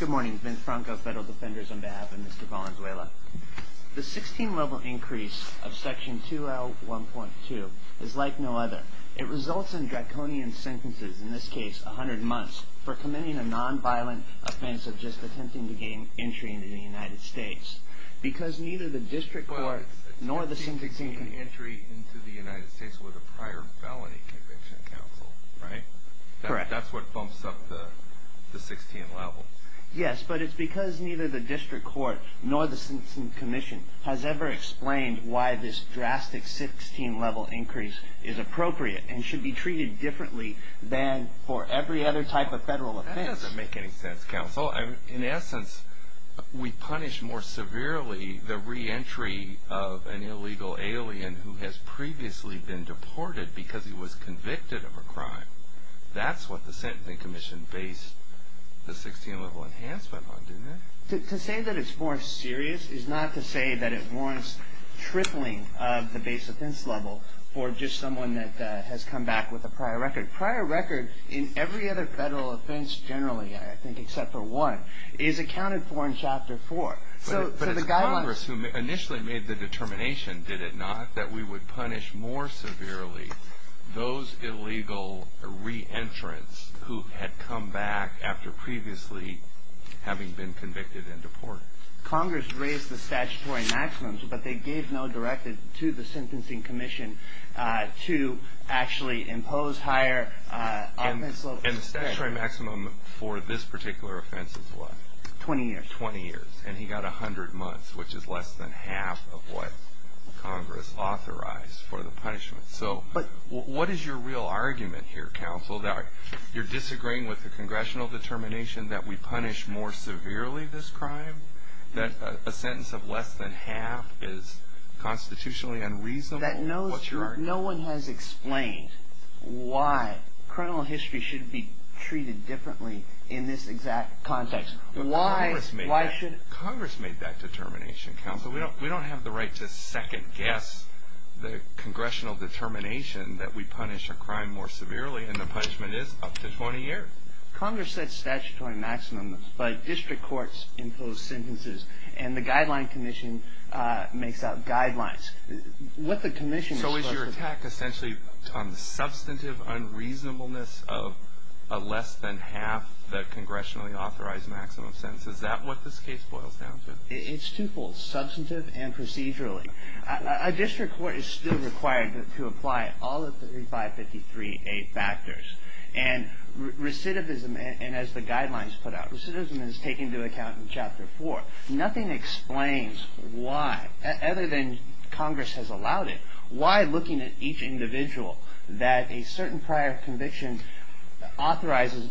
Good morning, Vince Franco, Federal Defenders, on behalf of Mr. Valenzuela. The 16-level increase of Section 2L1.2 is like no other. It results in draconian sentences, in this case 100 months, for committing a nonviolent offense of just attempting to gain entry into the United States. Because neither the district court nor the sentencing... Well, it's attempting to gain entry into the United States with a prior felony conviction, counsel, right? Correct. That's what bumps up the 16-level. Yes, but it's because neither the district court nor the sentencing commission has ever explained why this drastic 16-level increase is appropriate and should be treated differently than for every other type of federal offense. That doesn't make any sense, counsel. In essence, we punish more severely the re-entry of an illegal alien That's what the sentencing commission based the 16-level enhancement on, didn't it? To say that it's more serious is not to say that it warrants tripling of the base offense level for just someone that has come back with a prior record. Prior record in every other federal offense generally, I think, except for one, is accounted for in Chapter 4. But it's Congress who initially made the determination, did it not, that we would punish more severely those illegal re-entrants who had come back after previously having been convicted and deported. Congress raised the statutory maximums, but they gave no directive to the sentencing commission to actually impose higher offense levels. And the statutory maximum for this particular offense is what? 20 years. It should be 20 years, and he got 100 months, which is less than half of what Congress authorized for the punishment. So what is your real argument here, counsel, that you're disagreeing with the congressional determination that we punish more severely this crime? That a sentence of less than half is constitutionally unreasonable? No one has explained why criminal history should be treated differently in this exact context. Congress made that determination, counsel. We don't have the right to second-guess the congressional determination that we punish a crime more severely, and the punishment is up to 20 years. Congress sets statutory maximums, but district courts impose sentences, and the guideline commission makes out guidelines. What the commission is supposed to do. So is your attack essentially on the substantive unreasonableness of a less than half the congressionally authorized maximum sentence? Is that what this case boils down to? It's twofold, substantive and procedurally. A district court is still required to apply all the 3553A factors. And recidivism, and as the guidelines put out, recidivism is taken into account in Chapter 4. Nothing explains why, other than Congress has allowed it, why looking at each individual that a certain prior conviction authorizes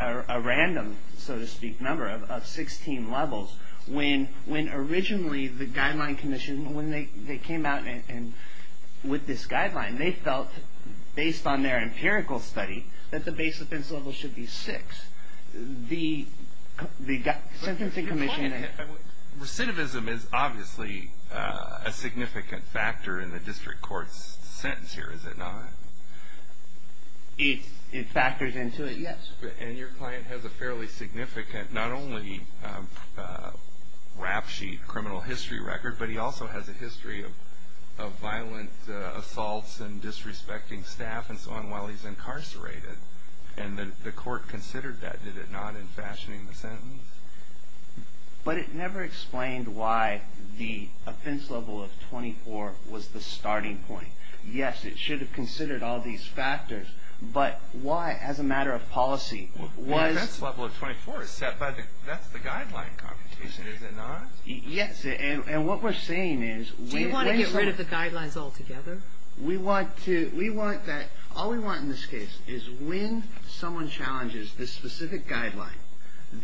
a random, so to speak, number of 16 levels, when originally the guideline commission, when they came out with this guideline, they felt based on their empirical study that the base offense level should be 6. The sentencing commission... Recidivism is obviously a significant factor in the district court's sentence here, is it not? It factors into it, yes. And your client has a fairly significant, not only rap sheet criminal history record, but he also has a history of violent assaults and disrespecting staff and so on while he's incarcerated. And the court considered that, did it not, in fashioning the sentence? But it never explained why the offense level of 24 was the starting point. Yes, it should have considered all these factors. But why, as a matter of policy, was... The offense level of 24 is set by the guideline competition, is it not? Yes. And what we're saying is... Do you want to get rid of the guidelines altogether? We want to, we want that, all we want in this case is when someone challenges this specific guideline,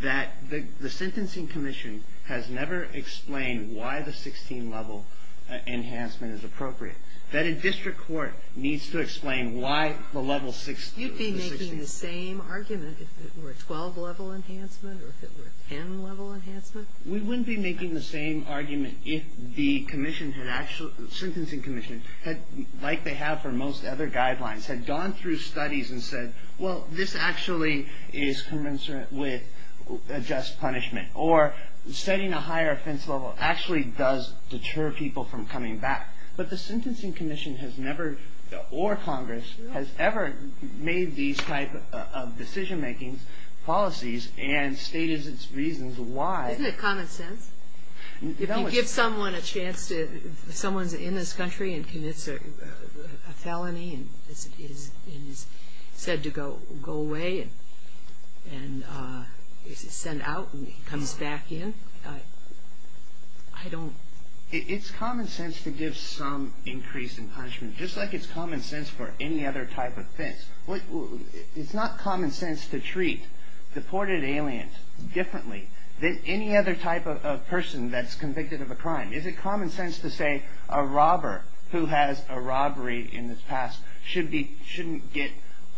that the sentencing commission has never explained why the 16-level enhancement is appropriate. That a district court needs to explain why the level 16... You'd be making the same argument if it were a 12-level enhancement or if it were a 10-level enhancement? We wouldn't be making the same argument if the commission had actually, the sentencing commission had, like they have for most other guidelines, had gone through studies and said, well, this actually is commensurate with a just punishment. Or setting a higher offense level actually does deter people from coming back. But the sentencing commission has never, or Congress, has ever made these type of decision-making policies and stated its reasons why. Isn't it common sense? If you give someone a chance to, if someone's in this country and commits a felony and is said to go away and is sent out and comes back in, I don't... It's common sense to give some increase in punishment, just like it's common sense for any other type of offense. It's not common sense to treat deported aliens differently than any other type of person that's convicted of a crime. Is it common sense to say a robber who has a robbery in his past shouldn't get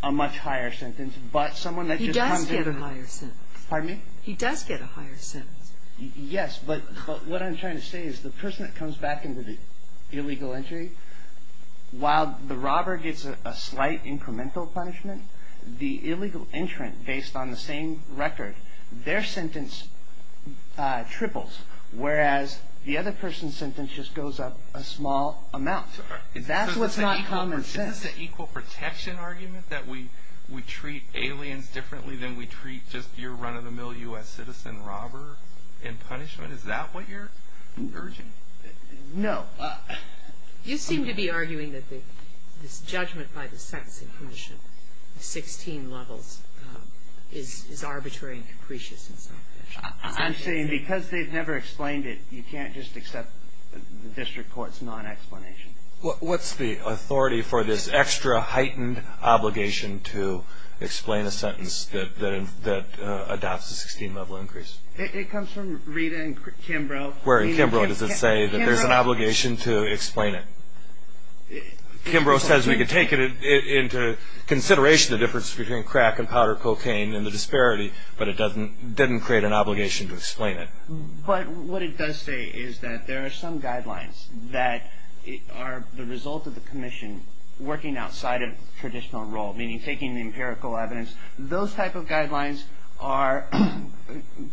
a much higher sentence, but someone that just comes in... He does get a higher sentence. Pardon me? He does get a higher sentence. Yes, but what I'm trying to say is the person that comes back into the illegal entry, while the robber gets a slight incremental punishment, the illegal entrant, based on the same record, their sentence triples, whereas the other person's sentence just goes up a small amount. That's what's not common sense. Is this an equal protection argument that we treat aliens differently than we treat just your run-of-the-mill U.S. citizen robber in punishment? Is that what you're urging? No. You seem to be arguing that this judgment by the sentencing commission, 16 levels, is arbitrary and capricious in some conditions. I'm saying because they've never explained it, you can't just accept the district court's non-explanation. What's the authority for this extra heightened obligation to explain a sentence that adopts a 16-level increase? It comes from Rita and Kimbrough. Where in Kimbrough does it say that there's an obligation to explain it? Kimbrough says we can take it into consideration, the difference between crack and powdered cocaine and the disparity, but it doesn't create an obligation to explain it. But what it does say is that there are some guidelines that are the result of the commission working outside of traditional role, meaning taking the empirical evidence. Those type of guidelines are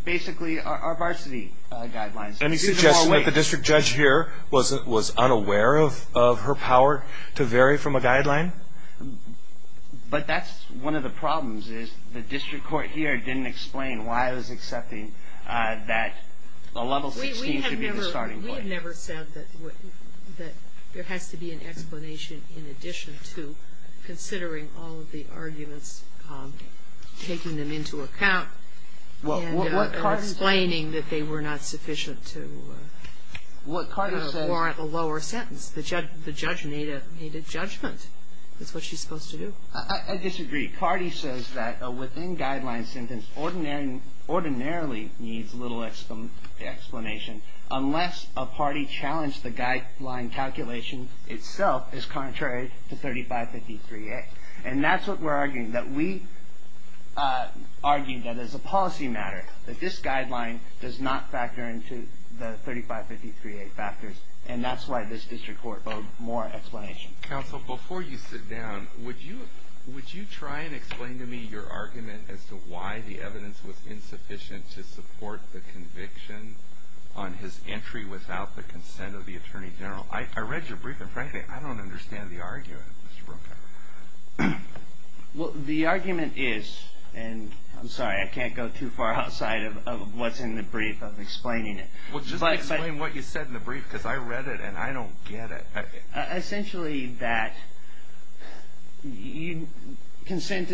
basically are varsity guidelines. Let me suggest that the district judge here was unaware of her power to vary from a guideline? But that's one of the problems is the district court here didn't explain why it was accepting that a level 16 should be the starting point. We have never said that there has to be an explanation in addition to considering all of the arguments, taking them into account and explaining that they were not sufficient to warrant a lower sentence. The judge made a judgment. That's what she's supposed to do. I disagree. Party says that a within guideline sentence ordinarily needs little explanation unless a party challenged the guideline calculation itself is contrary to 3553A. And that's what we're arguing, that we argue that there's a policy matter, that this guideline does not factor into the 3553A factors. And that's why this district court owed more explanation. Counsel, before you sit down, would you try and explain to me your argument as to why the evidence was insufficient to support the conviction on his entry without the consent of the attorney general? I read your brief, and frankly, I don't understand the argument, Mr. Brokauer. Well, the argument is, and I'm sorry, I can't go too far outside of what's in the brief of explaining it. Well, just explain what you said in the brief because I read it and I don't get it. Essentially that lack of consent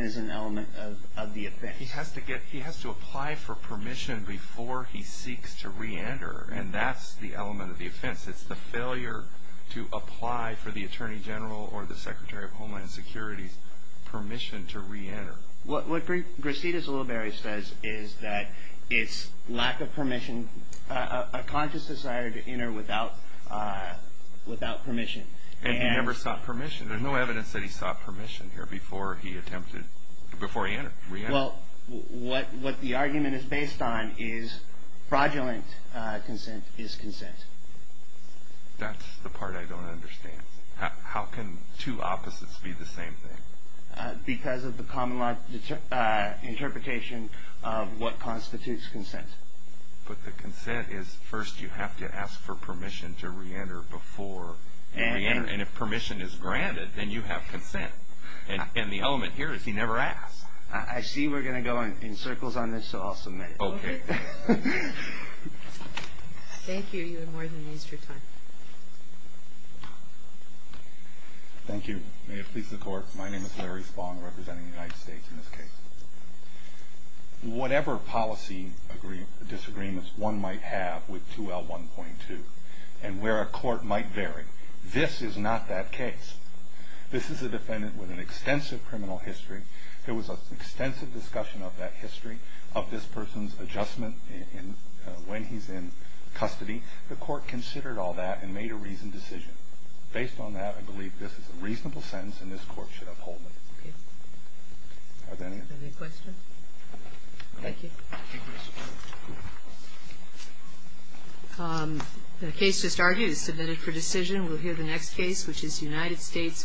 is an element of the offense. He has to apply for permission before he seeks to reenter, and that's the element of the offense. It's the failure to apply for the attorney general or the Secretary of Homeland Security's permission to reenter. What Gracetis Ulibarri says is that it's lack of permission, a conscious desire to enter without permission. And he never sought permission. There's no evidence that he sought permission here before he attempted, before he reentered. Well, what the argument is based on is fraudulent consent is consent. That's the part I don't understand. How can two opposites be the same thing? Because of the common interpretation of what constitutes consent. But the consent is first you have to ask for permission to reenter before you reenter. And if permission is granted, then you have consent. And the element here is he never asked. I see we're going to go in circles on this, so I'll submit it. Okay. Thank you. You have more than used your time. Thank you. May it please the Court. My name is Larry Spong representing the United States in this case. Whatever policy disagreements one might have with 2L1.2 and where a court might vary, this is not that case. This is a defendant with an extensive criminal history. There was an extensive discussion of that history, of this person's adjustment when he's in custody. The court considered all that and made a reasoned decision. Based on that, I believe this is a reasonable sentence and this Court should uphold it. Okay. Are there any other questions? Thank you. The case just argued. Submitted for decision. We'll hear the next case, which is United States v. Valdevinos-Mendez.